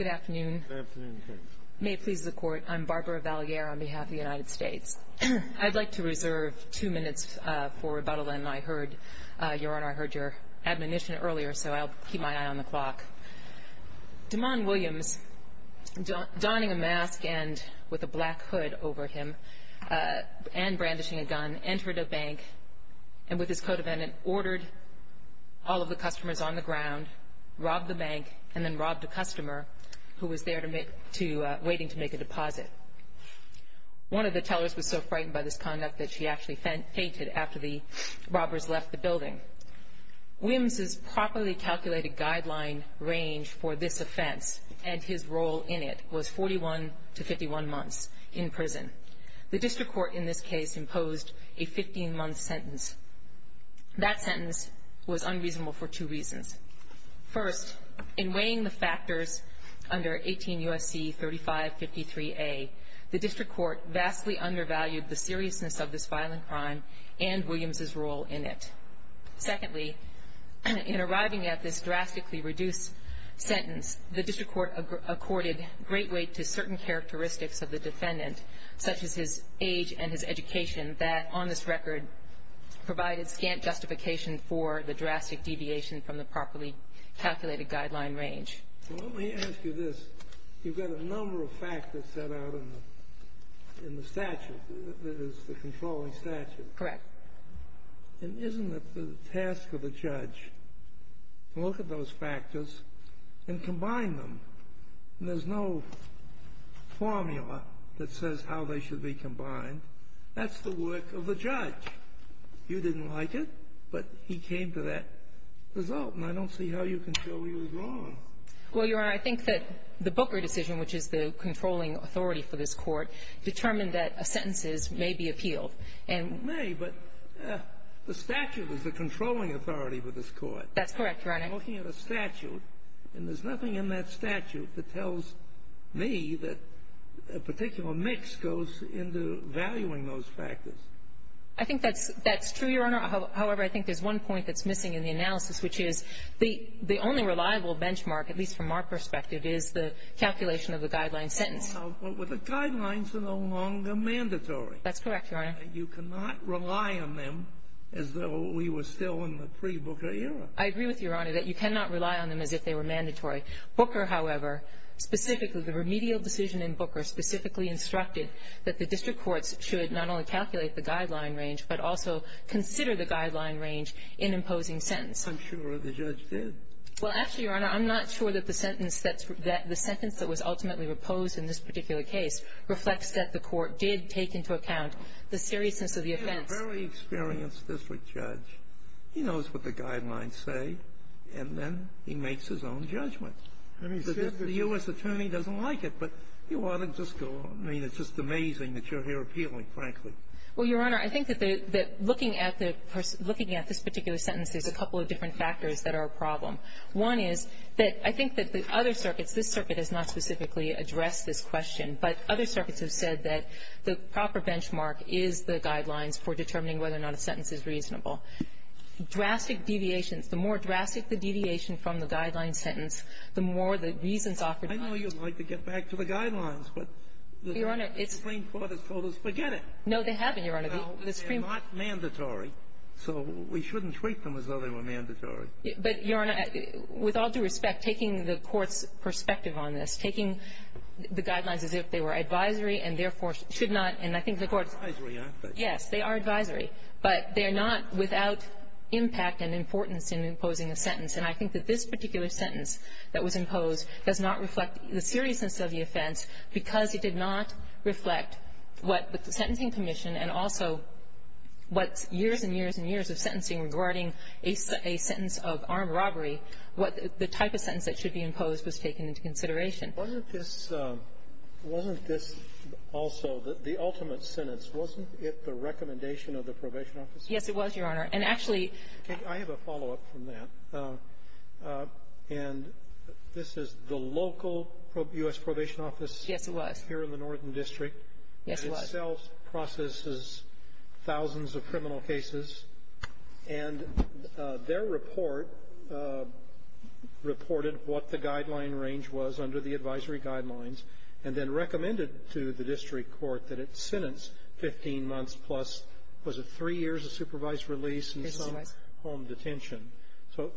I'd like to reserve two minutes for rebuttal and I heard your admonition earlier so I'll keep my eye on the clock. DeMond Williams donning a mask and with a black hood over him and brandishing a gun entered a bank and with his co-defendant ordered all of the customers on the ground, robbed the bank and then robbed a customer who was there waiting to make a deposit. One of the tellers was so frightened by this conduct that she actually fainted after the robbers left the building. Williams's properly calculated guideline range for this offense and his role in it was 41 to 51 months in prison. The district court in this case imposed a 15 month sentence. That sentence was unreasonable for two reasons. First, in weighing the factors under 18 U.S.C. 3553A, the district court vastly undervalued the seriousness of this violent crime and Williams's role in it. Secondly, in arriving at this drastically reduced sentence, the district court accorded great weight to certain characteristics of the defendant such as his age and his education that on this record provided scant justification for the drastic deviation from the properly calculated guideline range. Well, let me ask you this. You've got a number of factors set out in the statute that is the controlling statute. Correct. And isn't it the task of the judge to look at those factors and combine them? There's no formula that says how they should be combined. That's the work of the judge. You didn't like it, but he came to that result. And I don't see how you can show he was wrong. Well, Your Honor, I think that the Booker decision, which is the controlling authority for this Court, determined that sentences may be appealed. It may, but the statute is the controlling authority for this Court. That's correct, Your Honor. I'm looking at a statute, and there's nothing in that statute that tells me that a particular mix goes into valuing those factors. I think that's true, Your Honor. However, I think there's one point that's missing in the analysis, which is the only reliable benchmark, at least from our perspective, is the calculation of the guideline sentence. Well, the guidelines are no longer mandatory. That's correct, Your Honor. You cannot rely on them as though we were still in the pre-Booker era. I agree with you, Your Honor, that you cannot rely on them as if they were mandatory. Booker, however, specifically, the remedial decision in Booker specifically instructed that the district courts should not only calculate the guideline range, but also consider the guideline range in imposing sentence. I'm sure the judge did. Well, actually, Your Honor, I'm not sure that the sentence that's the sentence that was ultimately proposed in this particular case reflects that the Court did take into account the seriousness of the offense. A very experienced district judge, he knows what the guidelines say, and then he makes his own judgment. I mean, the U.S. attorney doesn't like it, but you ought to just go on. I mean, it's just amazing that you're here appealing, frankly. Well, Your Honor, I think that looking at this particular sentence, there's a couple of different factors that are a problem. One is that I think that the other circuits, this circuit has not specifically addressed this question, but other circuits have said that the proper benchmark is the guidelines for determining whether or not a sentence is reasonable. Drastic deviations. The more drastic the deviation from the guideline sentence, the more the reasons offered by the court. I know you'd like to get back to the guidelines, but the Supreme Court has told us, forget it. No, they haven't, Your Honor. Well, they're not mandatory, so we shouldn't treat them as though they were mandatory. But, Your Honor, with all due respect, taking the Court's perspective on this, taking the guidelines as if they were advisory and therefore should not, and I think the Court's perspective is that they are not. They are not without impact and importance in imposing a sentence. And I think that this particular sentence that was imposed does not reflect the seriousness of the offense because it did not reflect what the Sentencing Commission and also what years and years and years of sentencing regarding a sentence of armed robbery, what the type of sentence that should be imposed was taken into consideration. Wasn't this also the ultimate sentence? Wasn't it the recommendation of the probation office? Yes, it was, Your Honor. And actually ---- I have a follow-up from that. And this is the local U.S. probation office here in the Northern District. Yes, it was. It itself processes thousands of criminal cases. And their report reported what the guideline range was under the advisory guidelines and then recommended to the district court that its sentence, 15 months plus, was three years of supervised release and some home detention. So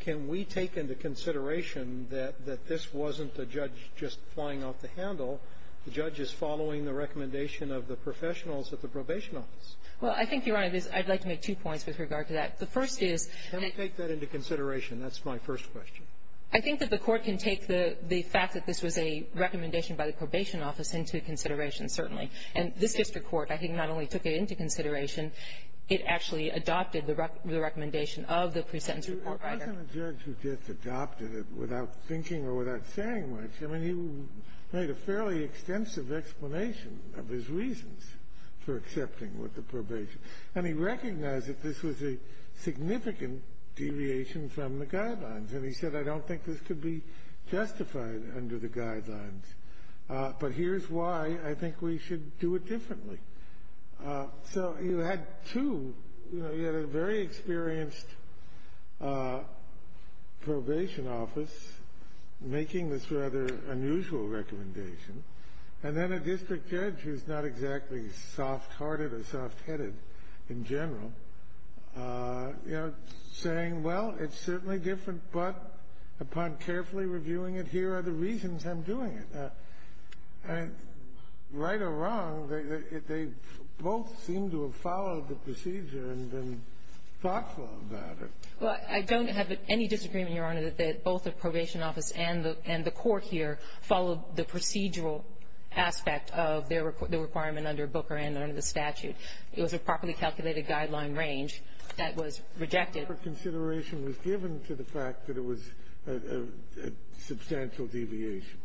can we take into consideration that this wasn't the judge just flying off the handle? The judge is following the recommendation of the professionals at the probation office. Well, I think, Your Honor, I'd like to make two points with regard to that. The first is ---- Can we take that into consideration? That's my first question. I think that the Court can take the fact that this was a recommendation by the probation office into consideration, certainly. And this district court, I think, not only took it into consideration, it actually adopted the recommendation of the pre-sentence report writer. Wasn't the judge who just adopted it without thinking or without saying much? I mean, he made a fairly extensive explanation of his reasons for accepting with the probation. And he recognized that this was a significant deviation from the guidelines. And he said, I don't think this could be justified under the guidelines. But here's why I think we should do it differently. So you had two, you know, you had a very experienced probation office making this rather unusual recommendation, and then a district judge who's not exactly soft-hearted or soft-headed in general, you know, saying, well, it's certainly different, but upon carefully reviewing it, here are the reasons I'm doing it. Right or wrong, they both seem to have followed the procedure and been thoughtful about it. Well, I don't have any disagreement, Your Honor, that both the probation office and the court here followed the procedural aspect of the requirement under Booker and under the statute. It was a properly calculated guideline range that was rejected. The proper consideration was given to the fact that it was a substantial deviation.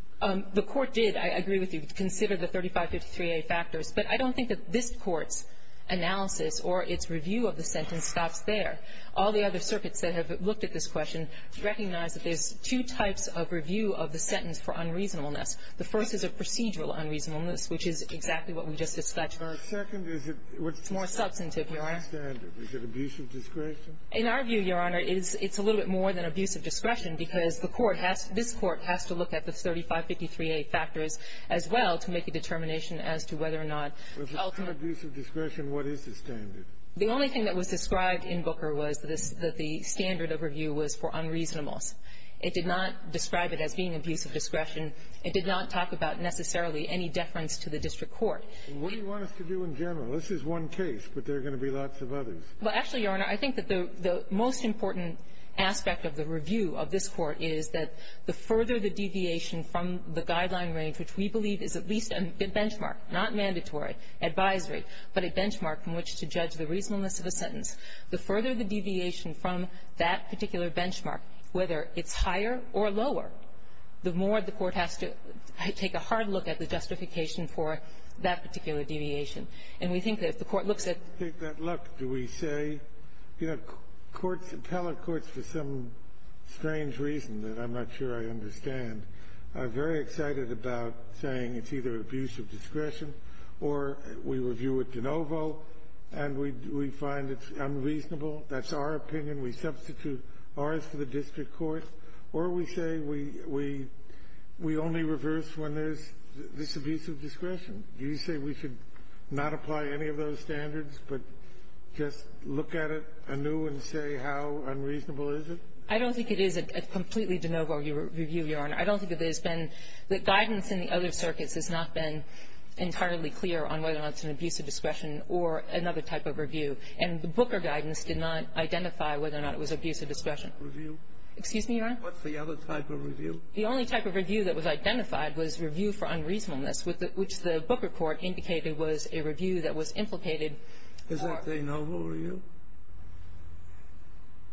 The court did, I agree with you, consider the 3553a factors. But I don't think that this Court's analysis or its review of the sentence stops there. All the other circuits that have looked at this question recognize that there's two types of review of the sentence for unreasonableness. The first is a procedural unreasonableness, which is exactly what we just discussed. The second is a more substantive, Your Honor. Is it abuse of discretion? In our view, Your Honor, it's a little bit more than abuse of discretion, because the court has to look at the 3553a factors as well to make a determination as to whether or not ultimately. If it's not abuse of discretion, what is the standard? The only thing that was described in Booker was that the standard of review was for unreasonableness. It did not describe it as being abuse of discretion. It did not talk about necessarily any deference to the district court. Kennedy. And what do you want us to do in general? This is one case, but there are going to be lots of others. Well, actually, Your Honor, I think that the most important aspect of the review of this Court is that the further the deviation from the guideline range, which we believe is at least a benchmark, not mandatory, advisory, but a benchmark from which to judge the reasonableness of a sentence, the further the deviation from that particular benchmark, whether it's higher or lower, the more the Court has to take a hard look at the justification for that particular deviation. And we think that if the Court looks at the other side of that, it's going to be a little bit more difficult to judge the other side of that. I think that, look, do we say, you know, courts, appellate courts, for some strange reason that I'm not sure I understand, are very excited about saying it's either abuse of discretion, or we review it de novo, and we find it unreasonable. That's our opinion. We substitute ours for the district court. Or we say we only reverse when there's this abuse of discretion. Do you say we should not apply any of those standards, but just look at it anew and say how unreasonable is it? I don't think that there's been the guidance in the other circuits has not been entirely clear on whether or not it's an abuse of discretion or another type of review. And the Booker guidance did not identify whether or not it was abuse of discretion. Excuse me, Your Honor? What's the other type of review? The only type of review that was identified was review for unreasonableness, which the Booker Court indicated was a review that was implicated. Is that de novo review?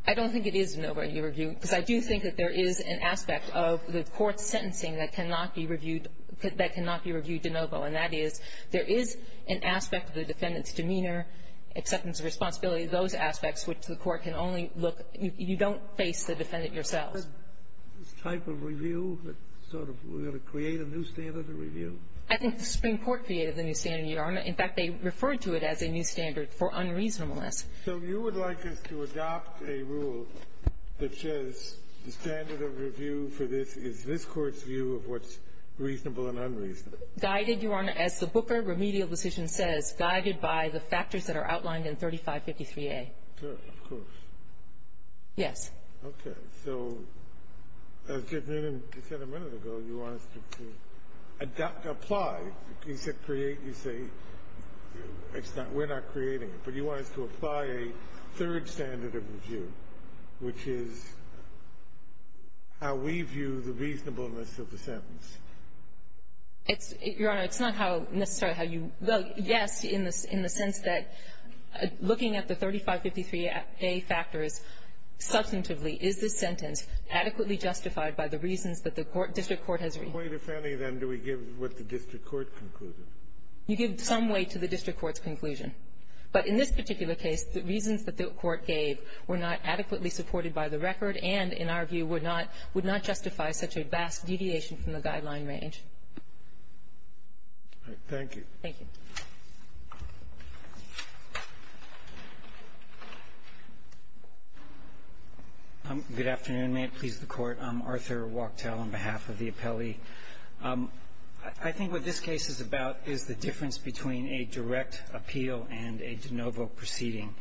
I don't think it is de novo review, because I do think that there is an aspect of the court's sentencing that cannot be reviewed de novo, and that is there is an aspect of the defendant's demeanor, acceptance of responsibility, those aspects which the court can only look at. You don't face the defendant yourself. Is there a type of review that sort of we're going to create a new standard of review? I think the Supreme Court created the new standard, Your Honor. In fact, they referred to it as a new standard for unreasonableness. So you would like us to adopt a rule that says the standard of review for this is this Court's view of what's reasonable and unreasonable? Guided, Your Honor, as the Booker remedial decision says, guided by the factors that are outlined in 3553a. Sure. Of course. Yes. Okay. So as Judge Newman said a minute ago, you want us to apply. You said create. You say it's not we're not creating it. But you want us to apply a third standard of review, which is how we view the reasonableness of the sentence. It's, Your Honor, it's not how necessarily how you, well, yes, in the sense that looking at the 3553a factors, substantively, is this sentence adequately justified by the reasons that the district court has reviewed? In what way, then, do we give what the district court concluded? You give some way to the district court's conclusion. But in this particular case, the reasons that the Court gave were not adequately supported by the record and, in our view, would not justify such a vast deviation from the guideline range. Thank you. Thank you. Good afternoon. May it please the Court. I'm Arthur Wachtell on behalf of the appellee. I think what this case is about is the difference between a direct appeal and a de novo proceeding.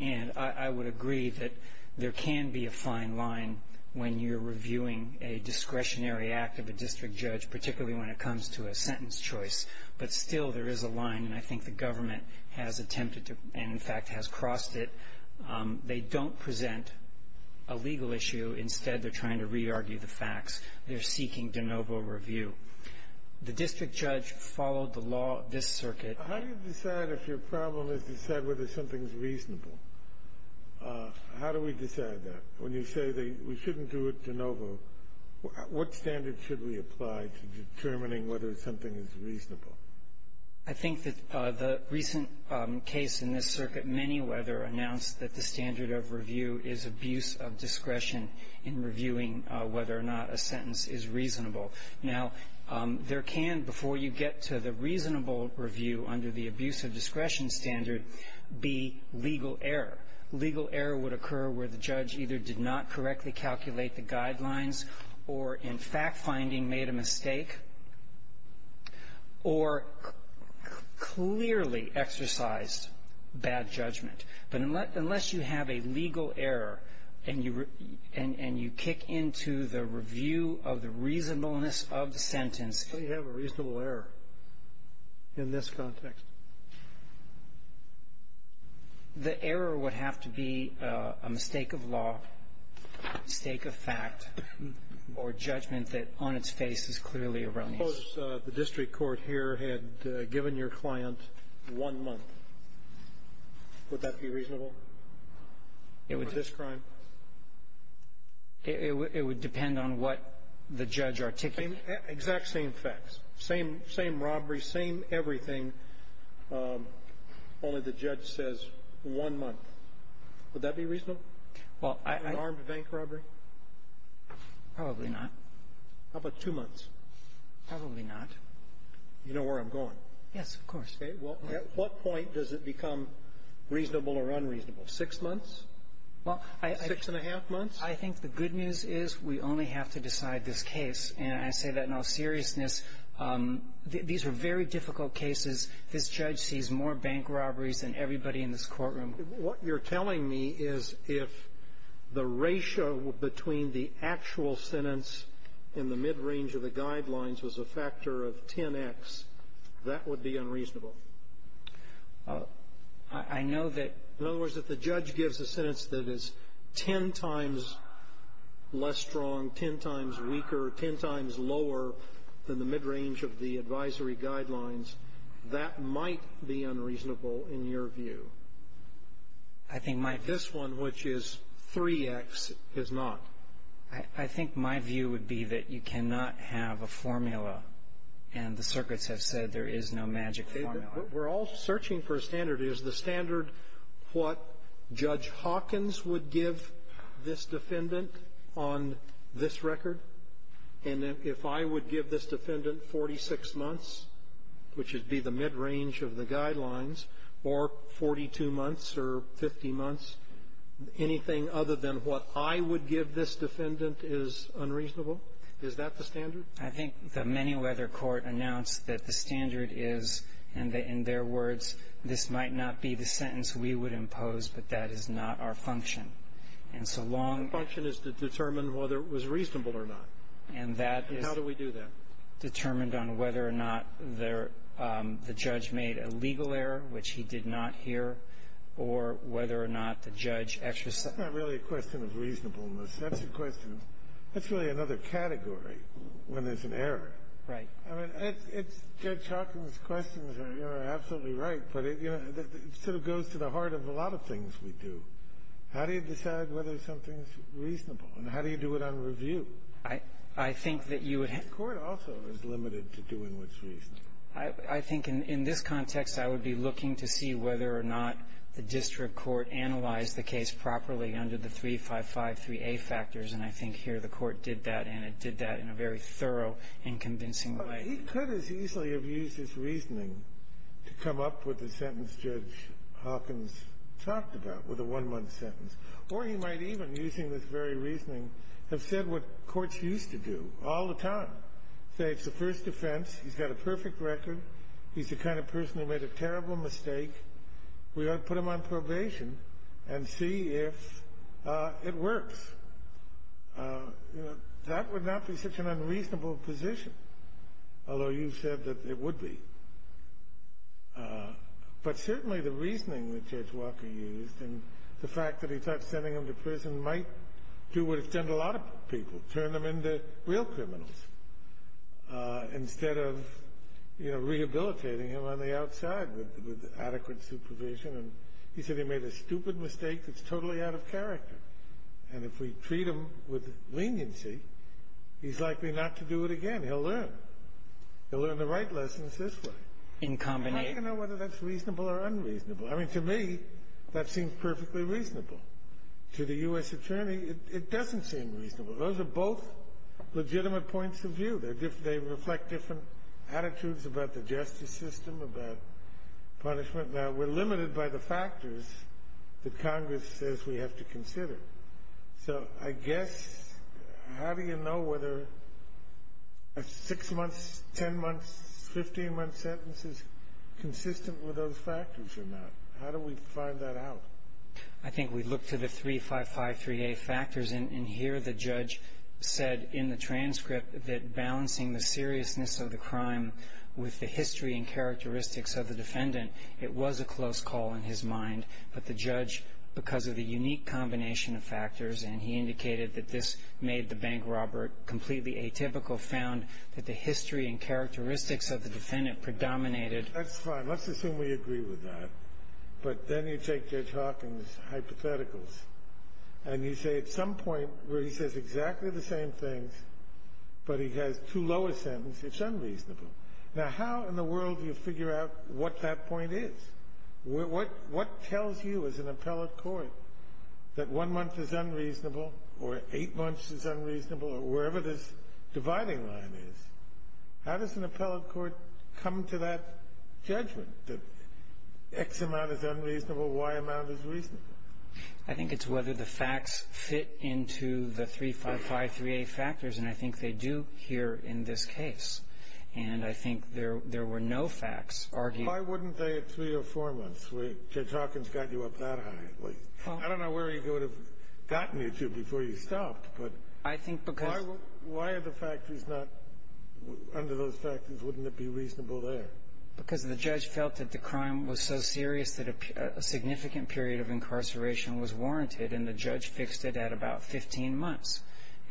And I would agree that there can be a fine line when you're reviewing a discretionary act of a district judge, particularly when it comes to a sentence choice. But still, there is a line, and I think the government has attempted to and, in fact, has crossed it. They don't present a legal issue. Instead, they're trying to re-argue the facts. They're seeking de novo review. The district judge followed the law of this circuit. How do you decide if your problem is to decide whether something is reasonable? How do we decide that? When you say that we shouldn't do a de novo, what standard should we apply to determining whether something is reasonable? I think that the recent case in this circuit, Manyweather, announced that the standard of review is abuse of discretion in reviewing whether or not a sentence is reasonable. Now, there can, before you get to the reasonable review under the abuse of discretion standard, be legal error. Legal error would occur where the judge either did not correctly calculate the guidelines or, in fact finding, made a mistake or clearly exercised bad judgment. But unless you have a legal error and you kick into the review of the reasonableness of the sentence. So you have a reasonable error in this context? The error would have to be a mistake of law, mistake of fact, or judgment that on its face is clearly erroneous. Suppose the district court here had given your client one month. Would that be reasonable? It would. For this crime? It would depend on what the judge articulated. Exact same facts. Same robbery, same everything, only the judge says one month. Would that be reasonable? Well, I – An armed bank robbery? Probably not. How about two months? Probably not. You know where I'm going? Yes, of course. Okay. Well, at what point does it become reasonable or unreasonable? Six months? Six and a half months? I think the good news is we only have to decide this case. And I say that in all seriousness. These are very difficult cases. This judge sees more bank robberies than everybody in this courtroom. What you're telling me is if the ratio between the actual sentence and the midrange of the guidelines was a factor of 10X, that would be unreasonable. I know that – In other words, if the judge gives a sentence that is 10 times less strong, 10 times weaker, 10 times lower than the midrange of the advisory guidelines, that might be unreasonable in your view. I think my – This one, which is 3X, is not. I think my view would be that you cannot have a formula. And the circuits have said there is no magic formula. We're all searching for a standard. Is the standard what Judge Hawkins would give this defendant on this record? And if I would give this defendant 46 months, which would be the midrange of the guidelines, or 42 months or 50 months, anything other than what I would give this defendant is unreasonable? Is that the standard? I think the Manyweather Court announced that the standard is, in their words, this might not be the sentence we would impose, but that is not our function. And so long – Our function is to determine whether it was reasonable or not. And that is – And how do we do that? Determined on whether or not the judge made a legal error, which he did not hear, or whether or not the judge exercised – That's not really a question of reasonableness. That's a question – that's really another category when there's an error. Right. I mean, Judge Hawkins' questions are absolutely right, but it sort of goes to the heart of a lot of things we do. How do you decide whether something's reasonable? And how do you do it on review? I think that you would – The court also is limited to doing what's reasonable. I think in this context, I would be looking to see whether or not the district court analyzed the case properly under the 355-3A factors. And I think here the court did that, and it did that in a very thorough and convincing way. But he could as easily have used his reasoning to come up with the sentence Judge Hawkins talked about, with a one-month sentence. Or he might even, using this very reasoning, have said what courts used to do all the time. Say it's the first offense, he's got a perfect record, he's the kind of person who made a terrible mistake. We ought to put him on probation and see if it works. That would not be such an unreasonable position, although you've said that it would be. But certainly the reasoning that Judge Walker used and the fact that he thought sending him to prison might do what it's done to a lot of people, turn them into real criminals, instead of rehabilitating him on the outside with adequate supervision. And he said he made a stupid mistake that's totally out of character. And if we treat him with leniency, he's likely not to do it again. He'll learn. He'll learn the right lessons this way. And how do you know whether that's reasonable or unreasonable? I mean, to me, that seems perfectly reasonable. To the U.S. Attorney, it doesn't seem reasonable. Those are both legitimate points of view. They reflect different attitudes about the justice system, about punishment. Now, we're limited by the factors that Congress says we have to consider. So I guess, how do you know whether a six-month, ten-month, 15-month sentence is consistent with those factors or not? How do we find that out? I think we look to the 3553A factors. And here the judge said in the transcript that balancing the seriousness of the crime with the history and characteristics of the defendant, it was a close call in his mind. But the judge, because of the unique combination of factors, and he indicated that this made the bank robber completely atypical, found that the history and characteristics of the defendant predominated. That's fine. Let's assume we agree with that. But then you take Judge Hawkins' hypotheticals. And you say at some point where he says exactly the same things, but he has two lower sentences, it's unreasonable. Now, how in the world do you figure out what that point is? What tells you as an appellate court that one month is unreasonable or eight months is unreasonable or wherever this dividing line is? How does an appellate court come to that judgment, that X amount is unreasonable, Y amount is reasonable? I think it's whether the facts fit into the 3553A factors. And I think they do here in this case. And I think there were no facts argued. Why wouldn't they at three or four months? Judge Hawkins got you up that high. I don't know where he would have gotten you to before you stopped. I think because Why are the factors not under those factors? Wouldn't it be reasonable there? Because the judge felt that the crime was so serious that a significant period of incarceration was warranted. And the judge fixed it at about 15 months.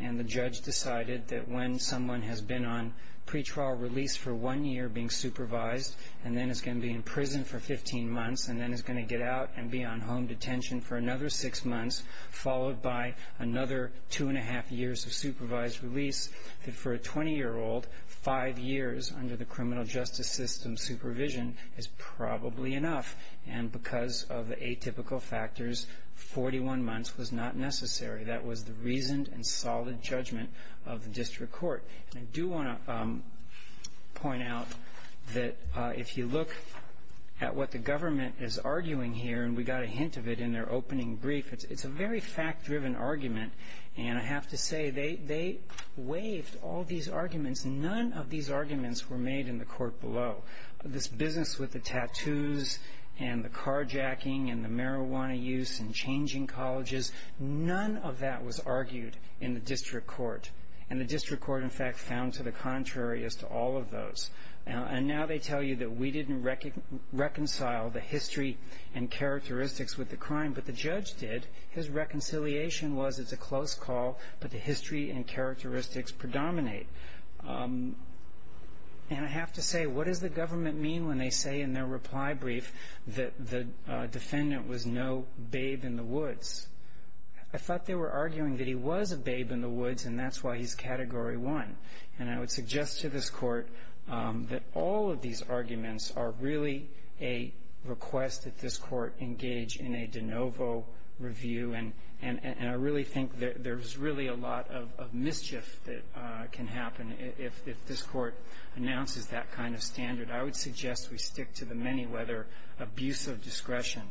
And the judge decided that when someone has been on pretrial release for one year being supervised and then is going to be in prison for 15 months and then is going to get out and be on home detention for another six months followed by another two and a half years of supervised release that for a 20-year-old, five years under the criminal justice system supervision is probably enough. And because of the atypical factors, 41 months was not necessary. That was the reasoned and solid judgment of the district court. And I do want to point out that if you look at what the government is arguing here and we got a hint of it in their opening brief, it's a very fact-driven argument. And I have to say they waived all these arguments. None of these arguments were made in the court below. This business with the tattoos and the carjacking and the marijuana use and changing colleges, none of that was argued in the district court. And the district court, in fact, found to the contrary as to all of those. And now they tell you that we didn't reconcile the history and characteristics with the crime, but the judge did. His reconciliation was it's a close call, but the history and characteristics predominate. And I have to say, what does the government mean when they say in their reply brief that the defendant was no babe in the woods? I thought they were arguing that he was a babe in the woods and that's why he's Category 1. And I would suggest to this court that all of these arguments are really a request that this court engage in a de novo review. And I really think there's really a lot of mischief that can happen if this court announces that kind of standard. I would suggest we stick to the many-weather abuse of discretion.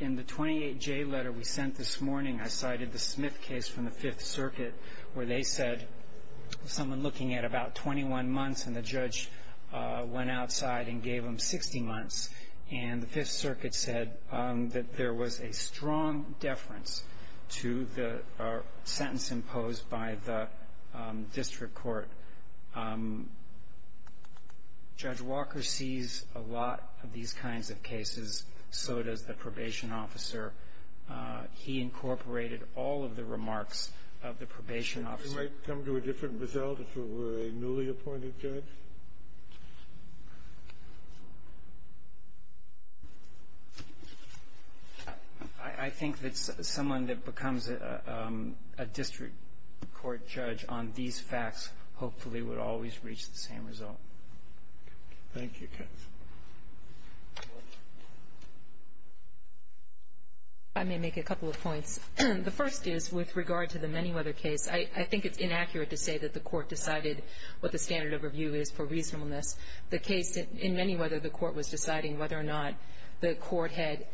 In the 28J letter we sent this morning, I cited the Smith case from the Fifth Circuit where they said someone looking at about 21 months and the judge went outside and gave him 60 months. And the Fifth Circuit said that there was a strong deference to the sentence imposed by the district court. Judge Walker sees a lot of these kinds of cases. So does the probation officer. He incorporated all of the remarks of the probation officer. Would it come to a different result if it were a newly appointed judge? I think that someone that becomes a district court judge on these facts hopefully would always reach the same result. Thank you, Kenneth. I may make a couple of points. The first is with regard to the many-weather case, I think it's inaccurate to say that the court decided what the standard of review is for reasonableness. The case in many-weather, the court was deciding whether or not the court had,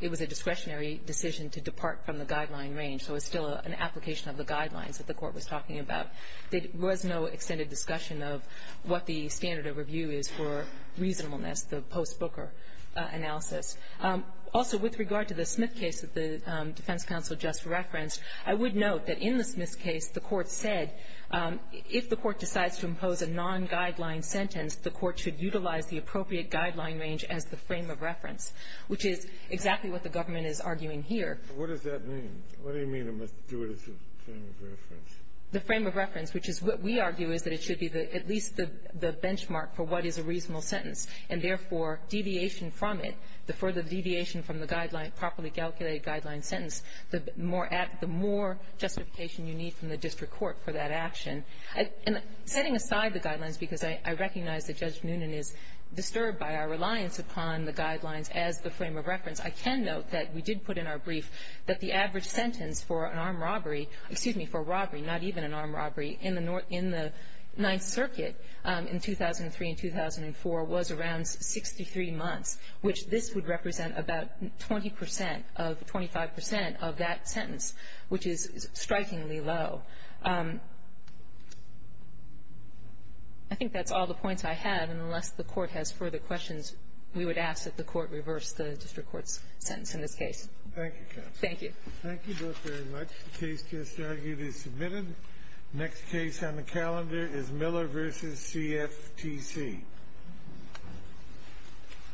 it was a discretionary decision to depart from the guideline range. So it's still an application of the guidelines that the court was talking about. There was no extended discussion of what the standard of review is for reasonableness, the post-Booker analysis. Also, with regard to the Smith case that the defense counsel just referenced, I would note that in the Smith case, the court said if the court decides to impose a non-guideline sentence, the court should utilize the appropriate guideline range as the frame of reference, which is exactly what the government is arguing here. What does that mean? What do you mean it must do it as a frame of reference? The frame of reference, which is what we argue is that it should be at least the benchmark for what is a reasonable sentence, and therefore, deviation from it, the further the deviation from the guideline, properly calculated guideline sentence, the more justification you need from the district court for that action. And setting aside the guidelines, because I recognize that Judge Noonan is disturbed by our reliance upon the guidelines as the frame of reference, I can note that we did put in our brief that the average sentence for an armed robbery, excuse me, for robbery, not even an armed robbery, in the Ninth Circuit in 2003 and 2004 was around 63 months, which this would represent about 20 percent, 25 percent of that sentence, which is strikingly low. I think that's all the points I have, and unless the Court has further questions, we would ask that the Court reverse the district court's sentence in this case. Thank you, counsel. Thank you. Thank you both very much. The case just argued is submitted. Next case on the calendar is Miller v. CFTC. Thank you.